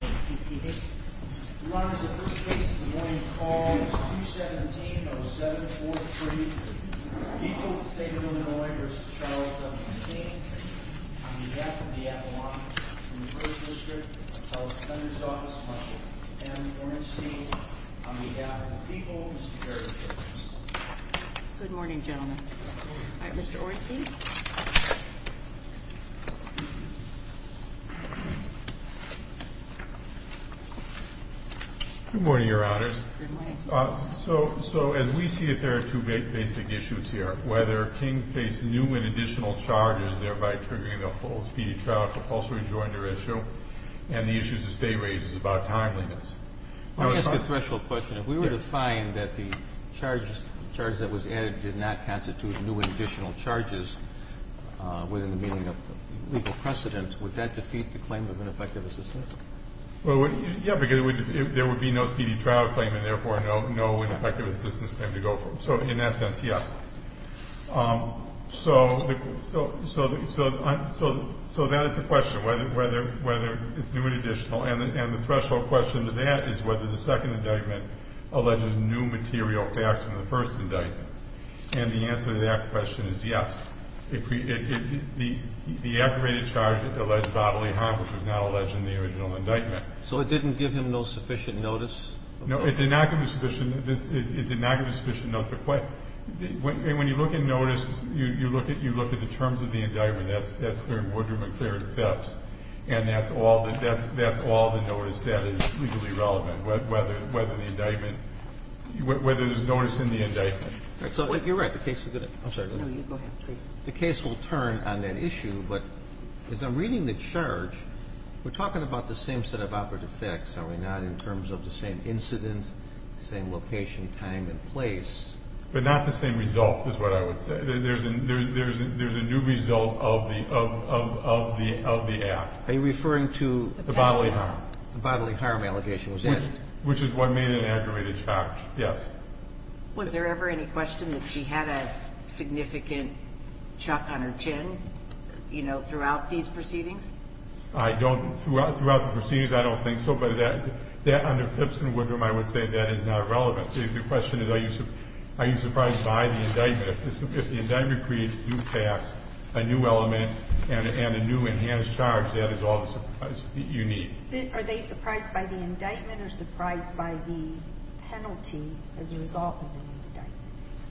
BC One 161 and call seven. State 1101 ah man, I'm very good morning, Janda. Mr Orenstein. Good morning, your honors. So So as we see it, there are two big basic issues here. Whether King face new and additional charges, thereby triggering a full speedy trial for false rejoinder issue and the issues of state raises about timeliness. I was a special question. If we were to find that the charges charge that was added did not constitute new and additional charges within the meaning of legal precedent, would that defeat the claim of ineffective assistance? Well, yeah, because if there would be no speedy trial claim and therefore no, no ineffective assistance time to go from. So in that sense, yes. Um, so so so so so so that is a question whether whether whether it's new and additional. And the threshold question to that is whether the second indictment alleged new material faster than the first indictment. And the answer to that question is yes, it created the the activated charge that alleged bodily harm, which was not alleged in the original indictment. So it didn't give him no sufficient notice. No, it did not come to sufficient. This did not give a sufficient note for quite when you look and notice you look at you look at the terms of the indictment. That's that's clear. Woodrum and carried steps. And that's all that. That's that's all the notice that is legally relevant. Whether whether the indictment whether there's notice in the indictment. So you're right. The case is going to go ahead. The case will turn on that issue. But as I'm reading the charge, we're talking about the same set of operative facts. So we're not in terms of the same incident, same location, time and place, but not the same result is what I would say. There's a there's a there's a new result of the of the of the act. Are you referring to the bodily bodily harm allegation, which is what made an aggravated charge? Yes. Was there ever any question that she had a significant chuck on her chin, you know, throughout these proceedings? I don't throughout throughout the proceedings. I don't think so. But that that under Phipps and Woodrum, I would say that is not relevant. The question is, are you are you surprised by the indictment? If the indictment creates new facts, a new element and a new enhanced charge, that is all you need. Are they surprised by the indictment or surprised by the penalty as a result?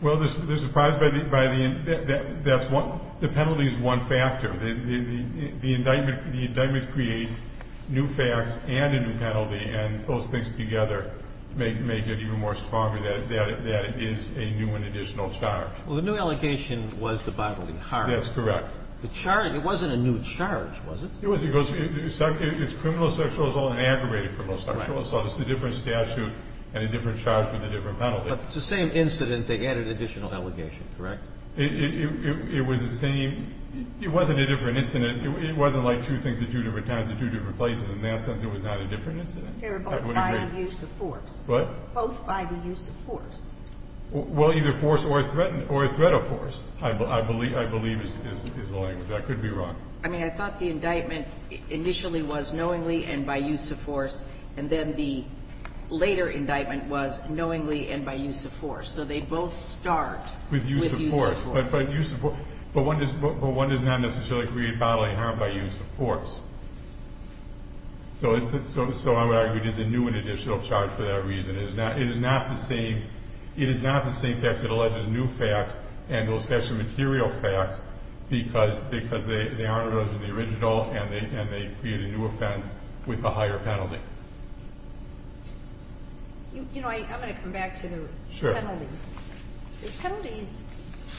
Well, they're surprised by the by the that that's what the penalty is. One factor. The indictment, the indictment creates new facts and a new penalty. And those things together make make it even more stronger that that that is a new and additional charge. Well, the new allegation was the bodily harm. That's correct. The charge. It wasn't a new charge, was it? It was. It goes. It's criminal sexual assault and aggravated criminal sexual assault. It's a different statute and a different charge with a different penalty. But it's the same incident. They added additional allegation. Correct. It was the same. It wasn't a different incident. It wasn't like two things at two different times in two different places. In that sense, it was not a different incident. They were both by the use of force. What? Both by the use of force. Well, either force or threatened or a threat of force, I believe, I believe is the language. I could be wrong. I mean, I thought the indictment initially was knowingly and by use of force, and then the later indictment was knowingly and by use of force. So they both start with use of force. But by use of force. But one does not necessarily create bodily harm by use of force. So I would argue it is a new and additional charge for that reason. It is not the same. It is not the same text that alleges new facts and those special material facts because they aren't related to the original and they create a new offense with a higher penalty. You know, I'm going to come back to the penalties. The penalties,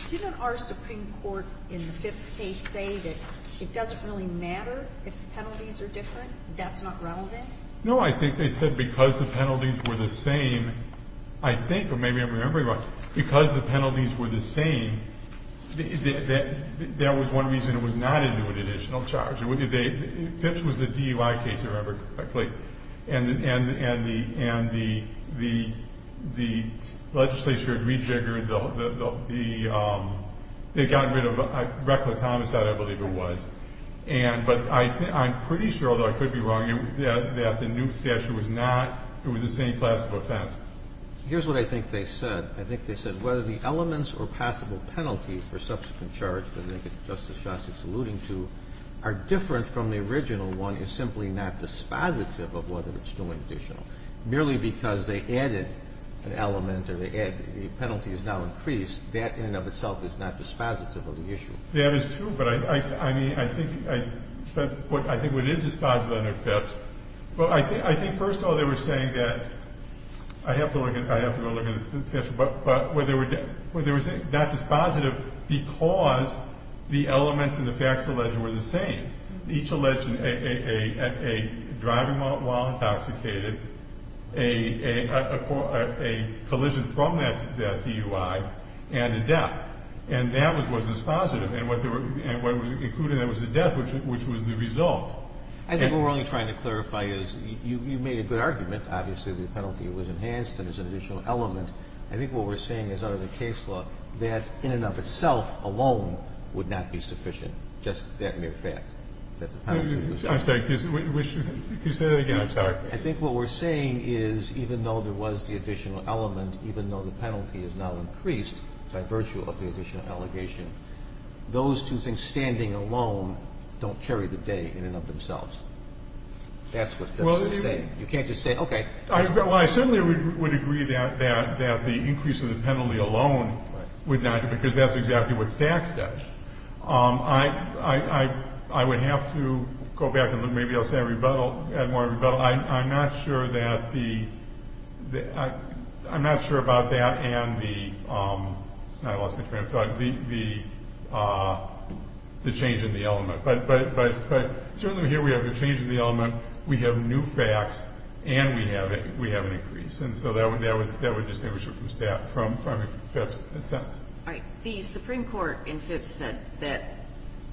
didn't our Supreme Court in the Phipps case say that it doesn't really matter if the penalties are different? That's not relevant? No, I think they said because the penalties were the same, I think, or maybe I'm remembering wrong, because the penalties were the same, that was one reason it was not a new and additional charge. Phipps was a DUI case, if I remember correctly, and the legislature had rejiggered the – they got rid of reckless homicide, I believe it was. But I'm pretty sure, although I could be wrong, that the new statute was not – it was the same class of offense. Here's what I think they said. I think they said whether the elements or possible penalty for subsequent charge, as I think Justice Gossett is alluding to, are different from the original one is simply not dispositive of whether it's new and additional. Merely because they added an element or they added – the penalty is now increased, that in and of itself is not dispositive of the issue. That is true, but I think what is dispositive under Phipps – well, I think first of all they were saying that – I have to go look at the statute – but whether it was not dispositive because the elements and the facts alleged were the same. Each alleged a driving while intoxicated, a collision from that DUI, and a death. And that was dispositive. And what was included in that was the death, which was the result. I think what we're only trying to clarify is you made a good argument. Obviously, the penalty was enhanced and there's an additional element. I think what we're saying is under the case law that in and of itself alone would not be sufficient, just that mere fact that the penalty was enhanced. I'm sorry. Could you say that again? I'm sorry. I think what we're saying is even though there was the additional element, even though the penalty is now increased by virtue of the additional allegation, those two things standing alone don't carry the day in and of themselves. That's what Phipps was saying. You can't just say, okay. I certainly would agree that the increase of the penalty alone would not – because that's exactly what Stax does. I would have to go back and maybe I'll say a rebuttal. I'm not sure that the – I'm not sure about that and the – I lost my train of thought – the change in the element. But certainly here we have the change in the element. We have new facts and we have an increase. And so that would distinguish it from Phipps in a sense. All right. The Supreme Court in Phipps said that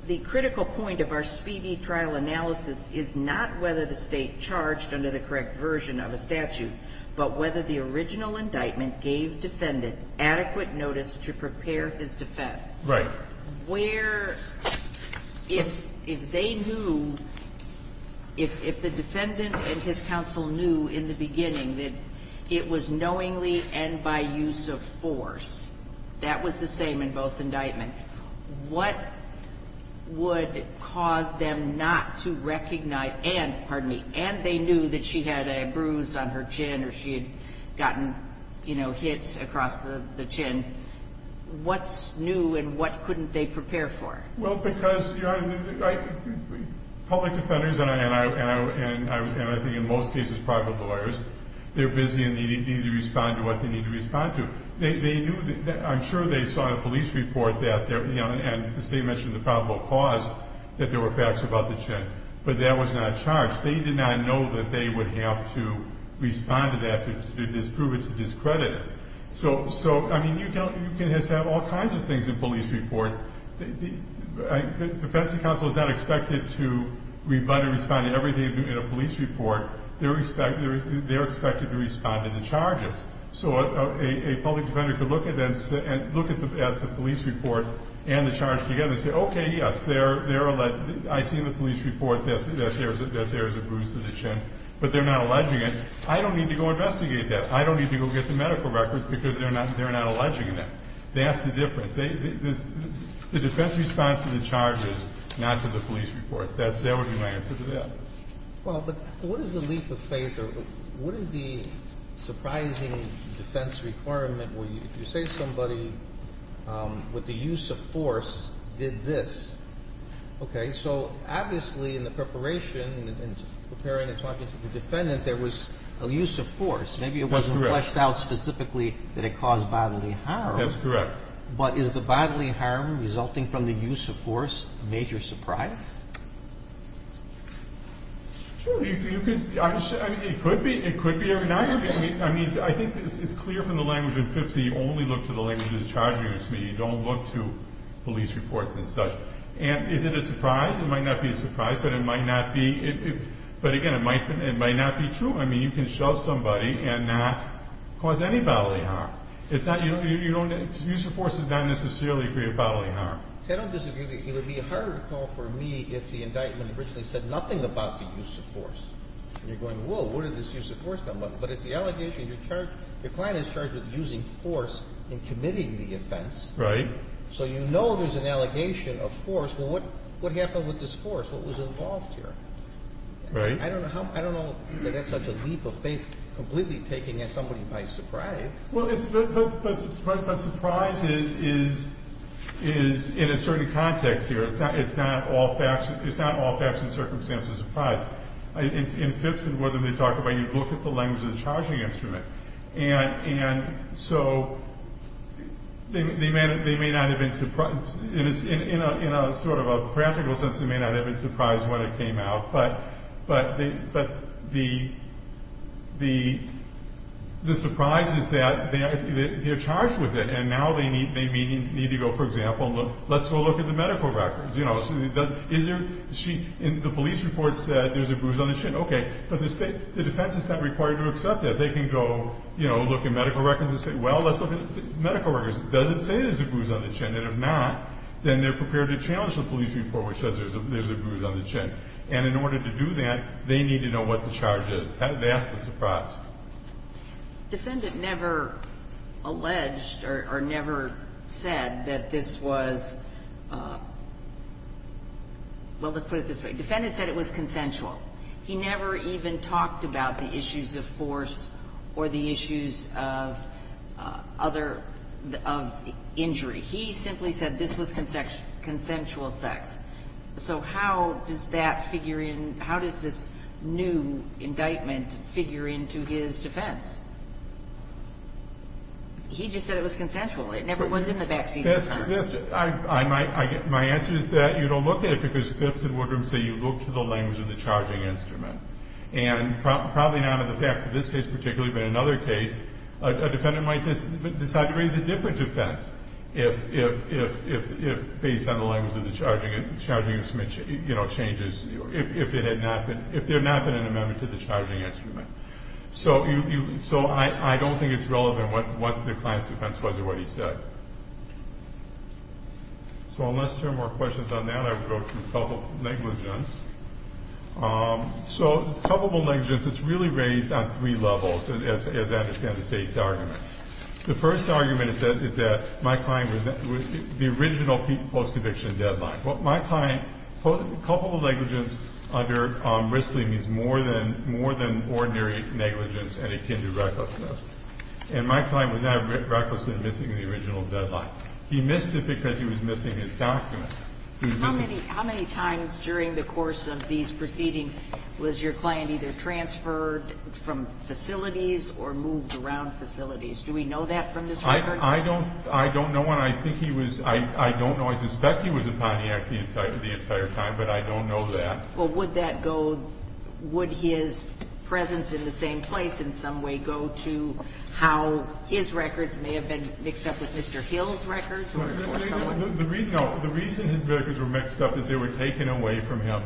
the critical point of our speedy trial analysis is not whether the State charged under the correct version of a statute, but whether the original indictment gave defendant adequate notice to prepare his defense. Right. Where – if they knew – if the defendant and his counsel knew in the beginning that it was knowingly and by use of force, that was the same in both indictments, what would cause them not to recognize – and – pardon me – and they knew that she had a bruise on her chin or she had gotten, you know, hits across the chin, what's new and what couldn't they prepare for? Well, because, Your Honor, public defenders and I think in most cases private lawyers, they're busy and they need to respond to what they need to respond to. They knew – I'm sure they saw a police report that – and the State mentioned the probable cause, that there were facts about the chin, but that was not charged. They did not know that they would have to respond to that to disprove it, to discredit it. So, I mean, you can have all kinds of things in police reports. The defense and counsel is not expected to respond to everything in a police report. They're expected to respond to the charges. So a public defender could look at the police report and the charge together and say, okay, yes, I see in the police report that there is a bruise to the chin, but they're not alleging it. I don't need to go investigate that. I don't need to go get the medical records because they're not alleging that. That's the difference. The defense responds to the charges, not to the police reports. That would be my answer to that. Well, but what is the leap of faith or what is the surprising defense requirement where you say somebody with the use of force did this? Okay. So, obviously, in the preparation and preparing and talking to the defendant, there was a use of force. That's correct. Maybe it wasn't fleshed out specifically that it caused bodily harm. That's correct. But is the bodily harm resulting from the use of force a major surprise? Sure. I mean, it could be. It could be. I mean, I think it's clear from the language in FIPS that you only look to the language of the charges. You don't look to police reports and such. And is it a surprise? It might not be a surprise, but it might not be true. I mean, you can shove somebody and not cause any bodily harm. Use of force does not necessarily create bodily harm. I don't disagree with you. It would be hard to call for me if the indictment originally said nothing about the use of force. And you're going, whoa, what did this use of force come up with? But at the allegation, your client is charged with using force in committing the offense. Right. So you know there's an allegation of force. Well, what happened with this force? What was involved here? Right. I don't know that that's such a leap of faith completely taking somebody by surprise. Well, but surprise is in a certain context here. It's not all facts and circumstances of surprise. In FIPS and whatever they talk about, you look at the language of the charging instrument. And so they may not have been surprised. In a sort of a practical sense, they may not have been surprised when it came out. But the surprise is that they're charged with it. And now they need to go, for example, let's go look at the medical records. You know, the police report said there's a bruise on the chin. Okay. But the defense is not required to accept that. They can go, you know, look at medical records and say, well, let's look at medical records. Does it say there's a bruise on the chin? And if not, then they're prepared to challenge the police report which says there's a bruise on the chin. And in order to do that, they need to know what the charge is. That's the surprise. Defendant never alleged or never said that this was – well, let's put it this way. Defendant said it was consensual. He never even talked about the issues of force or the issues of other – of injury. He simply said this was consensual sex. So how does that figure in – how does this new indictment figure into his defense? He just said it was consensual. It never was in the backseat of his car. My answer is that you don't look at it because fits the word. So you look to the language of the charging instrument. And probably not in the facts of this case particularly, but in another case, a defendant might decide to raise a different defense if – based on the language of the charging. Charging instrument, you know, changes if it had not been – if there had not been an amendment to the charging instrument. So I don't think it's relevant what the client's defense was or what he said. So unless there are more questions on that, I will go through a couple of negligence. So a couple of negligence. It's really raised on three levels as I understand the State's argument. The first argument is that my client was – the original post-conviction deadline. Well, my client – a couple of negligence under Risley means more than – more than ordinary negligence and akin to recklessness. And my client was not recklessly missing the original deadline. He missed it because he was missing his document. He was missing – How many – how many times during the course of these proceedings was your client either transferred from facilities or moved around facilities? Do we know that from this record? I don't – I don't know one. I think he was – I don't know. I suspect he was at Pontiac the entire time, but I don't know that. Well, would that go – would his presence in the same place in some way go to how his records may have been mixed up with Mr. Hill's records or someone? No. The reason his records were mixed up is they were taken away from him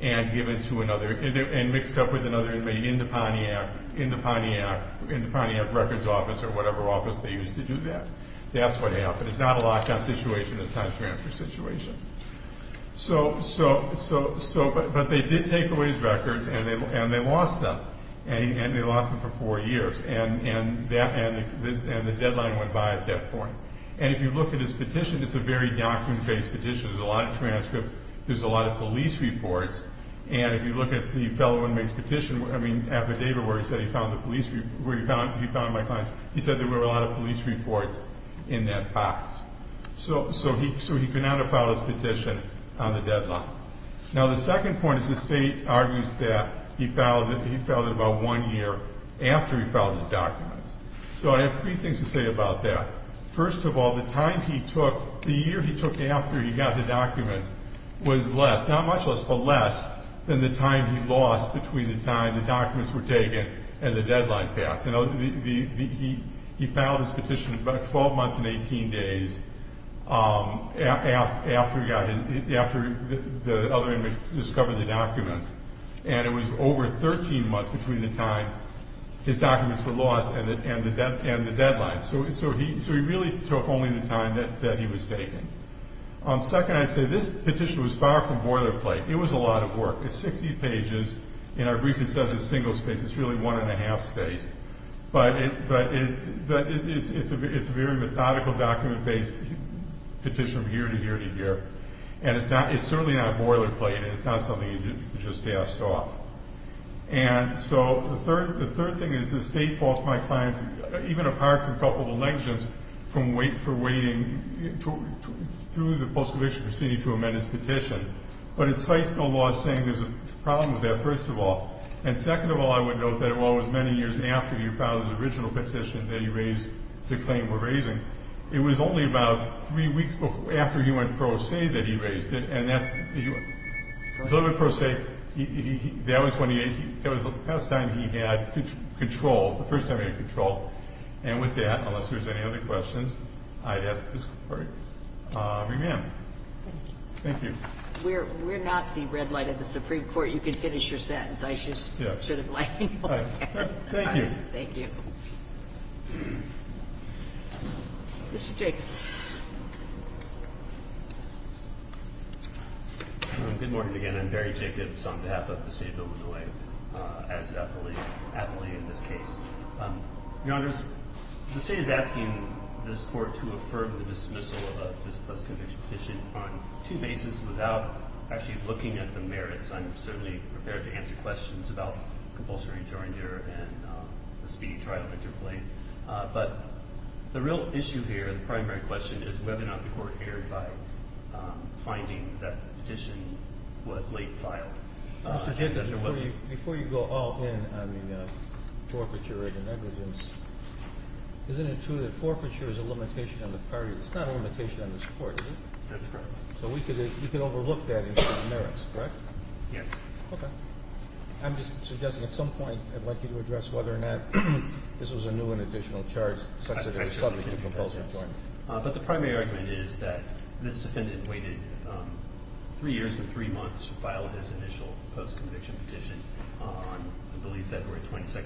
and given to another – and mixed up with another inmate in the Pontiac – in the Pontiac – in the Pontiac records office or whatever office they used to do that. That's what happened. It's not a lock-down situation. It's not a transfer situation. So – so – so – but they did take away his records, and they lost them. And they lost them for four years. And that – and the deadline went by at that point. And if you look at his petition, it's a very document-based petition. There's a lot of transcripts. There's a lot of police reports. And if you look at the fellow inmate's petition, I mean, affidavit where he said he found the police – where he found – he found my client's – so he could not have filed his petition on the deadline. Now, the second point is the state argues that he filed it about one year after he filed his documents. So I have three things to say about that. First of all, the time he took – the year he took after he got the documents was less – not much less, but less than the time he lost between the time the documents were taken and the deadline passed. And the – he filed his petition about 12 months and 18 days after he got – after the other inmate discovered the documents. And it was over 13 months between the time his documents were lost and the deadline. So he really took only the time that he was taking. Second, I say this petition was far from boilerplate. It was a lot of work. It's 60 pages. In our brief, it says it's single-spaced. It's really one-and-a-half-spaced. But it's a very methodical, document-based petition from year to year to year. And it's not – it's certainly not boilerplate, and it's not something you just ask off. And so the third thing is the state costs my client, even apart from a couple of elections, from waiting – for waiting through the post-conviction proceeding to amend his petition. But it cites the law as saying there's a problem with that, first of all. And second of all, I would note that it was many years after your father's original petition that he raised – the claim we're raising. It was only about three weeks after he went pro se that he raised it. And that's – he went pro se. That was when he – that was the last time he had control – the first time he had control. And with that, unless there's any other questions, I'd ask this court to amend. Thank you. We're not the red light of the Supreme Court. You can finish your sentence. I should sort of let you go. Thank you. Thank you. Mr. Jacobs. Good morning again. I'm Barry Jacobs on behalf of the State of Illinois, as aptly in this case. Your Honors, the State is asking this Court to affirm the dismissal of this post-conviction petition on two bases without actually looking at the merits. I'm certainly prepared to answer questions about compulsory joint error and the speedy trial interplay. But the real issue here, the primary question, is whether or not the Court erred by finding that the petition was late filed. Mr. Jacobs, before you go all in on the forfeiture of the negligence, isn't it true that forfeiture is a limitation on the period? It's not a limitation on this Court, is it? That's correct. So we could overlook that in terms of merits, correct? Yes. Okay. I'm just suggesting at some point I'd like you to address whether or not this was a new and additional charge such that it was subject to compulsory employment. But the primary argument is that this defendant waited three years and three months to file his initial post-conviction petition on, I believe, February 22,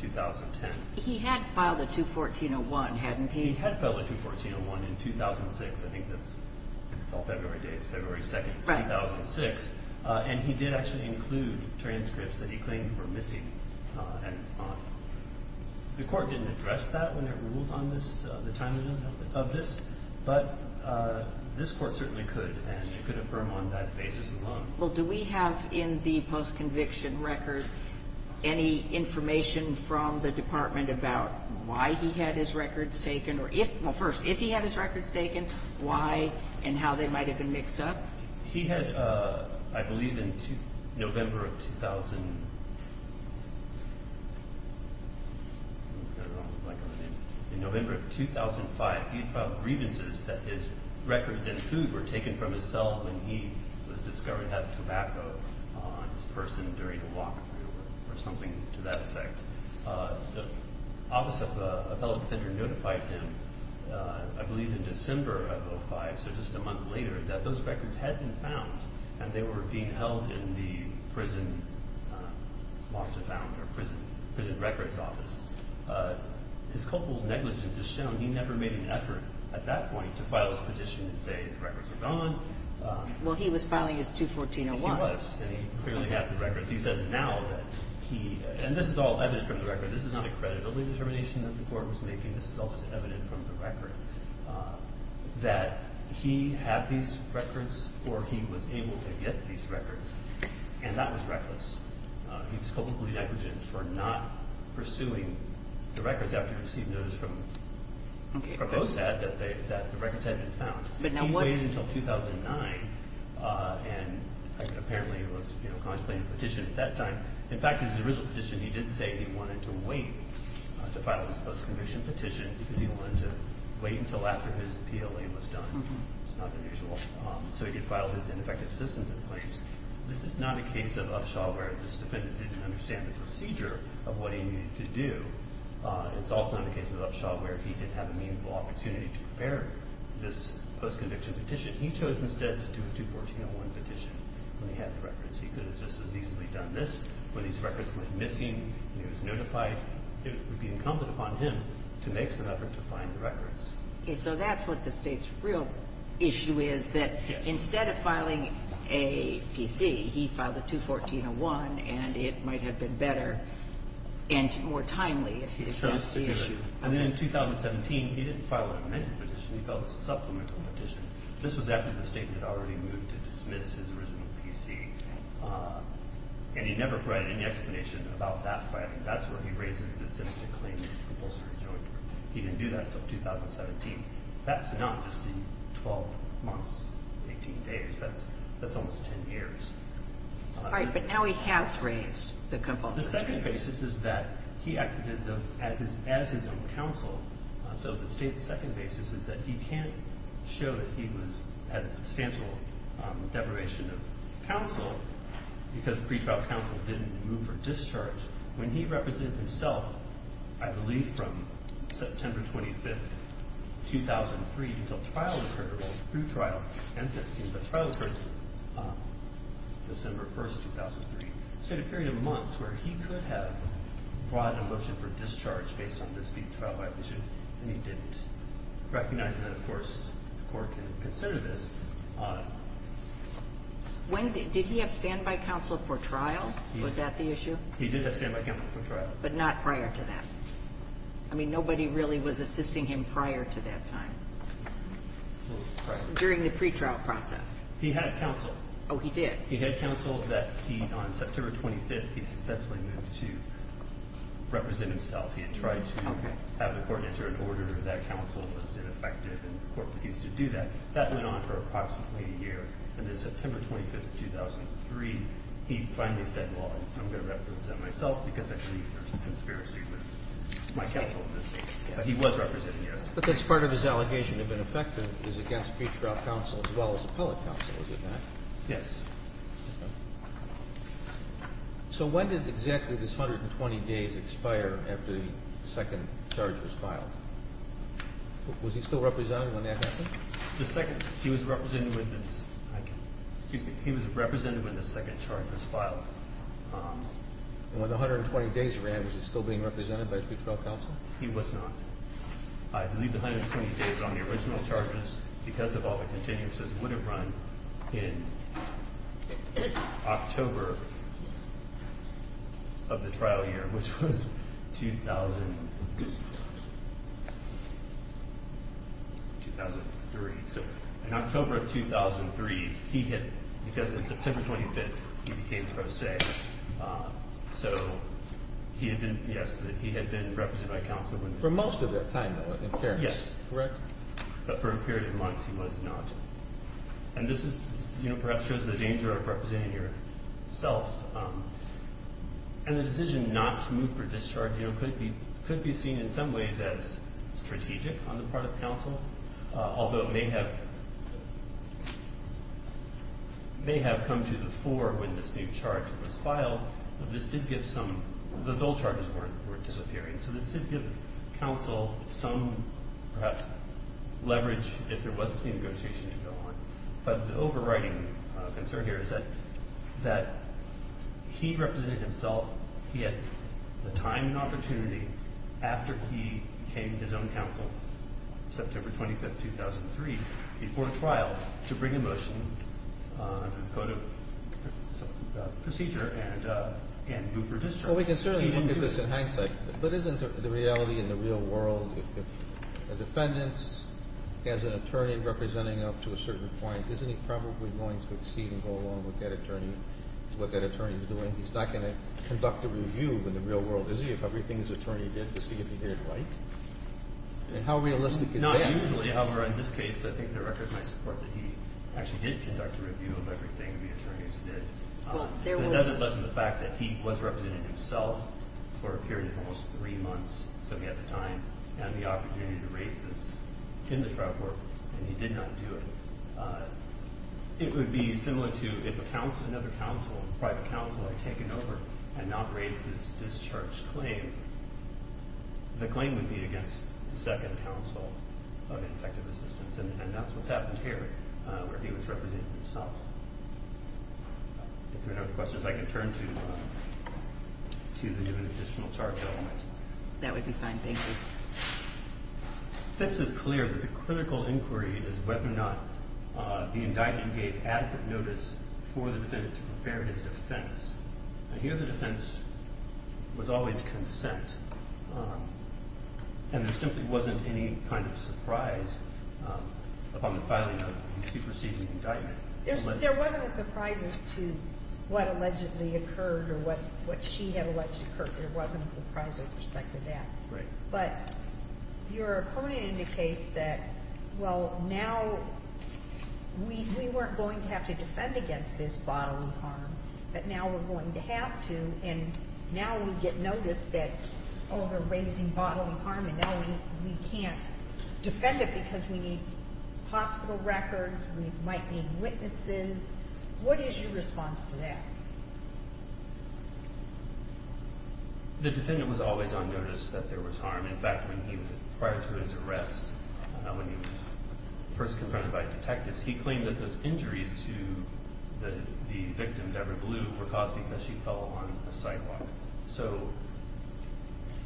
2010. He had filed a 214-01, hadn't he? He had filed a 214-01 in 2006. I think that's all February dates, February 2, 2006. And he did actually include transcripts that he claimed were missing. The Court didn't address that when it ruled on this, the timing of this. But this Court certainly could, and it could affirm on that basis alone. Well, do we have in the post-conviction record any information from the department about why he had his records taken? Or if, well, first, if he had his records taken, why and how they might have been mixed up? He had, I believe, in November of 2000 – I've got it wrong. In November of 2005, he filed grievances that his records and food were taken from his cell when he was discovered to have tobacco on his person during a walkthrough or something to that effect. The office of a fellow defender notified him, I believe in December of 2005, so just a month later, that those records had been found, and they were being held in the prison records office. His culpable negligence has shown he never made an effort at that point to file his petition and say the records are gone. Well, he was filing his 214-01. Of course, he says now that he – and this is all evident from the record. This is not a credibility determination that the Court was making. This is all just evident from the record that he had these records or he was able to get these records, and that was reckless. He was culpably negligent for not pursuing the records after he received notice from – Okay. The records had been found. But now what's – He waited until 2009, and apparently he was contemplating a petition at that time. In fact, in his original petition, he did say he wanted to wait to file his post-commission petition because he wanted to wait until after his appeal was done. It's not unusual. So he did file his ineffective assistance and claims. This is not a case of upshot where this defendant didn't understand the procedure of what he needed to do. It's also not a case of upshot where he didn't have a meaningful opportunity to prepare this post-conviction petition. He chose instead to do a 214-01 petition when he had the records. He could have just as easily done this. When these records went missing, he was notified. It would be incumbent upon him to make some effort to find the records. Okay. So that's what the State's real issue is, that instead of filing a PC, he filed a 214-01, and it might have been better and more timely if he had addressed the issue. And then in 2017, he didn't file an amended petition. He filed a supplemental petition. This was after the State had already moved to dismiss his original PC, and he never provided any explanation about that. That's where he raises the instance to claim compulsory joint. He didn't do that until 2017. That's not just in 12 months, 18 days. That's almost 10 years. All right, but now he has raised the compulsory joint. The second basis is that he acted as his own counsel. So the State's second basis is that he can't show that he was at substantial deprivation of counsel because pretrial counsel didn't move for discharge. When he represented himself, I believe from September 25th, 2003, until trial occurred, both through trial and sentencing, but trial occurred December 1st, 2003. So a period of months where he could have brought a motion for discharge based on this pretrial violation, and he didn't, recognizing that, of course, the court can consider this. Did he have standby counsel for trial? Was that the issue? He did have standby counsel for trial. But not prior to that? I mean, nobody really was assisting him prior to that time during the pretrial process. He had counsel. Oh, he did? He had counsel that he, on September 25th, he successfully moved to represent himself. He had tried to have the court enter an order that counsel was ineffective, and the court refused to do that. That went on for approximately a year, and then September 25th, 2003, he finally said, well, I'm going to represent myself because I believe there's a conspiracy with my counsel in this case. But he was representing himself. But that's part of his allegation of ineffective is against pretrial counsel as well as appellate counsel, is it not? Yes. Okay. So when did exactly this 120 days expire after the second charge was filed? Was he still representing when that happened? The second. He was representing when the second charge was filed. And when the 120 days ran, was he still being represented by his pretrial counsel? He was not. I believe the 120 days on the original charges, because of all the continuances, would have run in October of the trial year, which was 2003. So in October of 2003, he had, because of September 25th, he became pro se. So he had been, yes, he had been represented by counsel. For most of that time, though, in fairness. Yes. Correct? But for a period of months he was not. And this is, you know, perhaps shows the danger of representing yourself. And the decision not to move for discharge, you know, could be seen in some ways as strategic on the part of counsel. Although it may have come to the fore when this new charge was filed. But this did give some, those old charges weren't disappearing. So this did give counsel some, perhaps, leverage if there was a clean negotiation to go on. But the overriding concern here is that he represented himself. He had the time and opportunity after he became his own counsel, September 25th, 2003, before trial to bring a motion under the Code of Procedure and move for discharge. Well, we can certainly look at this in hindsight. But isn't the reality in the real world, if a defendant has an attorney representing him up to a certain point, isn't he probably going to exceed and go along with that attorney, what that attorney is doing? He's not going to conduct a review in the real world, is he, of everything his attorney did to see if he did it right? And how realistic is that? Not usually. However, in this case, I think there are records in my support that he actually did conduct a review of everything the attorneys did. But that doesn't lessen the fact that he was representing himself for a period of almost three months, so he had the time and the opportunity to raise this in the trial court. And he did not do it. It would be similar to if another counsel, a private counsel, had taken over and not raised this discharge claim, the claim would be against the second counsel of Infective Assistance. And that's what's happened here, where he was representing himself. If there are no questions, I can turn to the new and additional charge element. That would be fine. Thank you. Phipps is clear that the critical inquiry is whether or not the indictment gave adequate notice for the defendant to prepare his defense. I hear the defense was always consent, and there simply wasn't any kind of surprise upon the filing of the superseding indictment. There wasn't a surprise as to what allegedly occurred or what she had alleged occurred. There wasn't a surprise with respect to that. Right. But your opponent indicates that, well, now we weren't going to have to defend against this bodily harm, but now we're going to have to, and now we get notice that, oh, they're raising bodily harm, and now we can't defend it because we need hospital records, we might need witnesses. What is your response to that? The defendant was always on notice that there was harm. In fact, prior to his arrest, when he was first confronted by detectives, he claimed that those injuries to the victim, Deborah Blue, were caused because she fell on a sidewalk.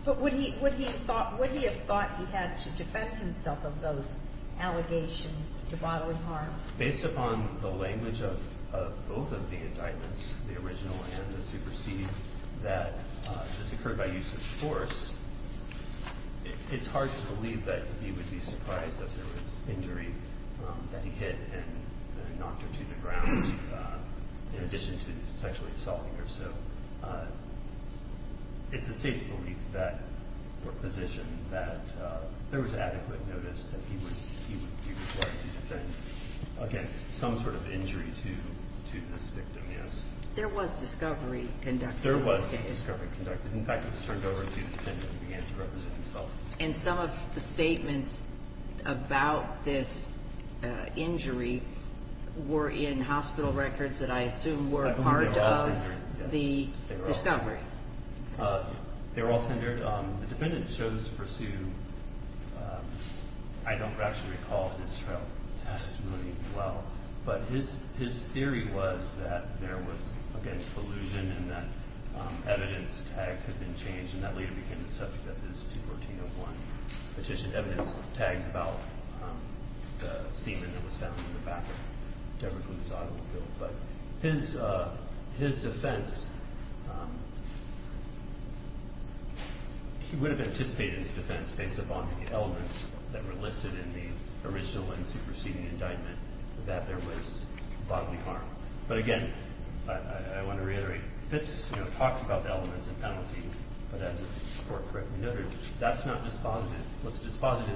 But would he have thought he had to defend himself of those allegations to bodily harm? Based upon the language of both of the indictments, the original and the superseding, that this occurred by use of force, it's hard to believe that he would be surprised that there was injury that he hit and knocked her to the ground in addition to sexually assaulting her. So it's the State's belief that, or position, that there was adequate notice that he was required to defend against some sort of injury to this victim, yes. There was discovery conducted in this case. There was discovery conducted. In fact, he was turned over to the defendant and began to represent himself. And some of the statements about this injury were in hospital records that I assume were part of the discovery. They were all tendered. The defendant chose to pursue, I don't actually recall his trial testimony well, but his theory was that there was, again, collusion and that evidence tags had been changed and that later became the subject of his 214-01 petition evidence tags about the semen that was found in the back of Deborah Kluge's automobile. But his defense, he would have anticipated his defense based upon the elements that were listed in the original and superseding indictment that there was bodily harm. But again, I want to reiterate, Fitz talks about the elements of penalty, but as the Court correctly noted, that's not dispositive. What's dispositive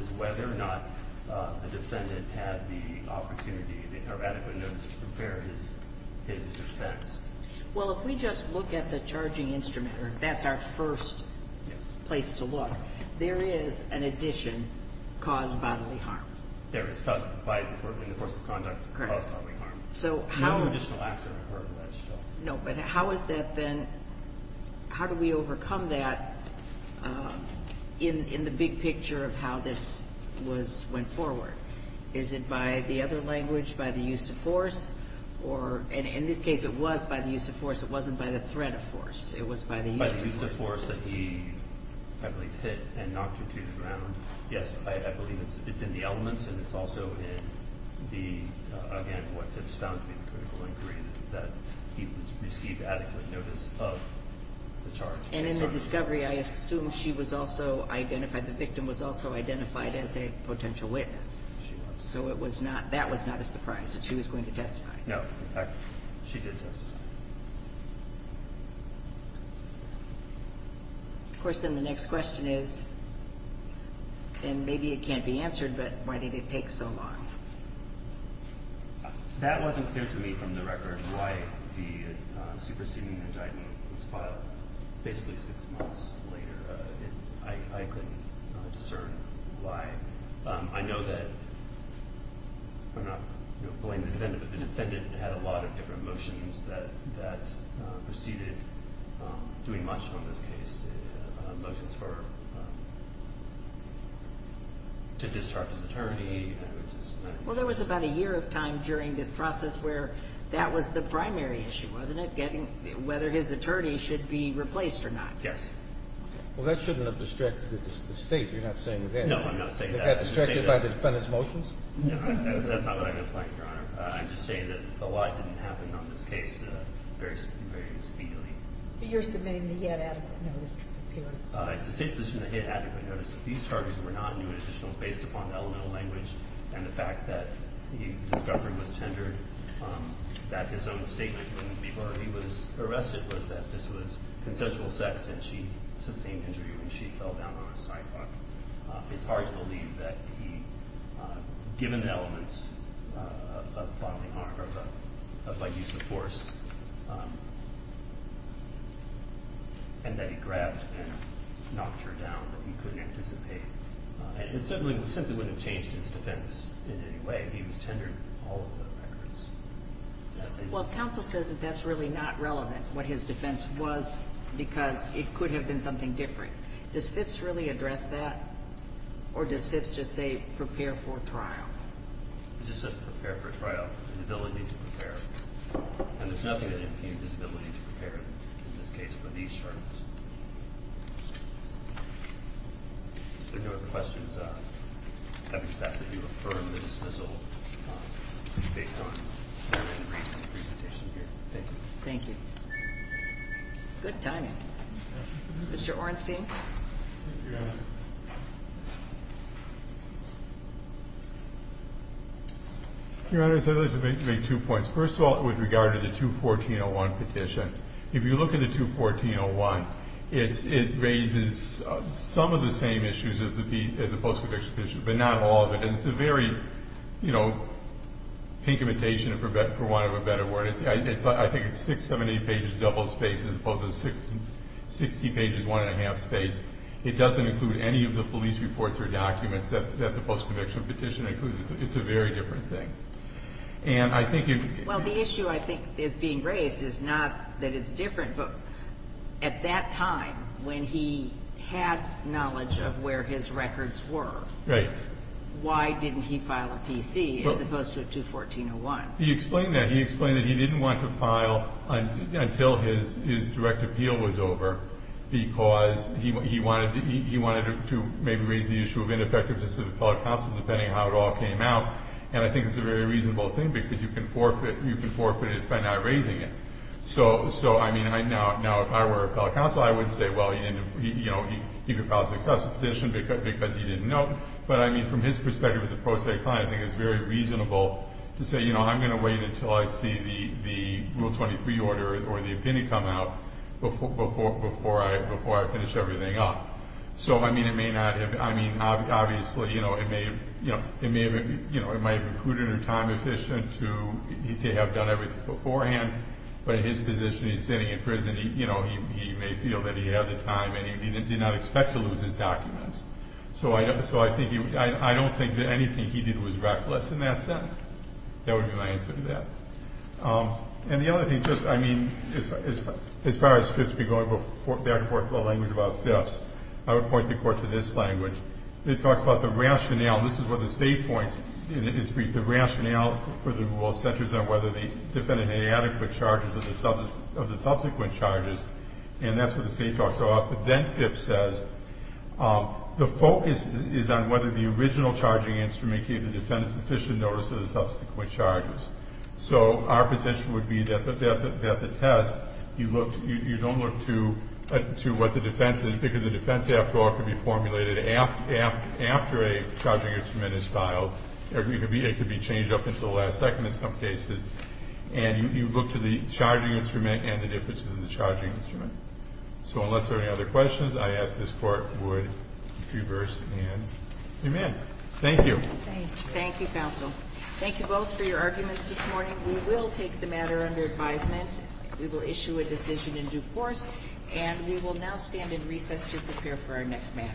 is whether or not a defendant had the opportunity or adequate notice to prepare his defense. Well, if we just look at the charging instrument, that's our first place to look, there is an addition, cause bodily harm. There is cause of compliance in the course of conduct caused bodily harm. Correct. No additional acts are referred to that. No, but how is that then, how do we overcome that in the big picture of how this went forward? Is it by the other language, by the use of force? In this case, it was by the use of force. It wasn't by the threat of force. It was by the use of force. By the use of force that he, I believe, hit and knocked her to the ground. Yes, I believe it's in the elements, and it's also in the, again, what Fitz found to be the critical inquiry, that he received adequate notice of the charge. And in the discovery, I assume she was also identified, the victim was also identified as a potential witness. She was. So it was not, that was not a surprise that she was going to testify. No, in fact, she did testify. Of course, then the next question is, and maybe it can't be answered, but why did it take so long? That wasn't clear to me from the record why the superseding indictment was filed. Basically six months later, I couldn't discern why. I know that, I'm not going to blame the defendant, but the defendant had a lot of different motions that proceeded, doing much on this case, motions for, to discharge his attorney. Well, there was about a year of time during this process where that was the primary issue, wasn't it, getting whether his attorney should be replaced or not. Yes. Well, that shouldn't have distracted the State. You're not saying that. No, I'm not saying that. It got distracted by the defendant's motions? No, that's not what I'm going to blame, Your Honor. I'm just saying that a lot didn't happen on this case very speedily. You're submitting the inadequate notice. It's the State's position that he had adequate notice. These charges were not new and additional based upon the elemental language and the fact that the discovery was tendered, that his own statements wouldn't be heard. The reason that he was arrested was that this was consensual sex and she sustained injury when she fell down on a sidewalk. It's hard to believe that he, given the elements of bodily harm or by use of force, and that he grabbed and knocked her down, that he couldn't anticipate. And certainly, we simply wouldn't have changed his defense in any way if he was tendered all of the records. Well, counsel says that that's really not relevant, what his defense was, because it could have been something different. Does Phipps really address that, or does Phipps just say prepare for trial? It just says prepare for trial, the ability to prepare. And there's nothing that impedes his ability to prepare in this case for these charges. If there are no other questions, I would just ask that you affirm the dismissal based on the presentation here. Thank you. Thank you. Good timing. Mr. Ornstein. Your Honor, I'd like to make two points. First of all, with regard to the 214-01 petition, if you look at the 214-01, it raises some of the same issues as the post-conviction petition, but not all of it. And it's a very, you know, pinkimentation, for want of a better word. I think it's six, seven, eight pages, double-spaced, as opposed to 60 pages, one-and-a-half-spaced. It doesn't include any of the police reports or documents that the post-conviction petition includes. It's a very different thing. Well, the issue I think is being raised is not that it's different, but at that time when he had knowledge of where his records were, why didn't he file a PC as opposed to a 214-01? He explained that. He explained that he didn't want to file until his direct appeal was over because he wanted to maybe raise the issue of ineffective depending how it all came out. And I think it's a very reasonable thing because you can forfeit it by not raising it. So, I mean, now if I were a fellow counsel, I would say, well, you know, he could file a successful petition because he didn't know. But, I mean, from his perspective as a pro se client, I think it's very reasonable to say, you know, I'm going to wait until I see the Rule 23 order or the opinion come out before I finish everything up. So, I mean, it may not have, I mean, obviously, you know, it may have been prudent or time efficient to have done everything beforehand. But in his position, he's sitting in prison. You know, he may feel that he had the time and he did not expect to lose his documents. So, I don't think that anything he did was reckless in that sense. That would be my answer to that. And the other thing, just, I mean, as far as FIPS be going, we'll back and forth the language about FIPS. I would point the Court to this language. It talks about the rationale. This is where the State points in its brief. The rationale for the rule centers on whether the defendant had adequate charges of the subsequent charges. And that's what the State talks about. But then FIPS says the focus is on whether the original charging instrument gave the defendant sufficient notice of the subsequent charges. So our position would be that the test, you don't look to what the defense is, because the defense, after all, can be formulated after a charging instrument is filed. It could be changed up until the last second in some cases. And you look to the charging instrument and the differences in the charging instrument. So unless there are any other questions, I ask this Court would reverse and amend. Thank you. Thank you, counsel. Thank you both for your arguments this morning. We will take the matter under advisement. We will issue a decision in due course. And we will now stand in recess to prepare for our next matter.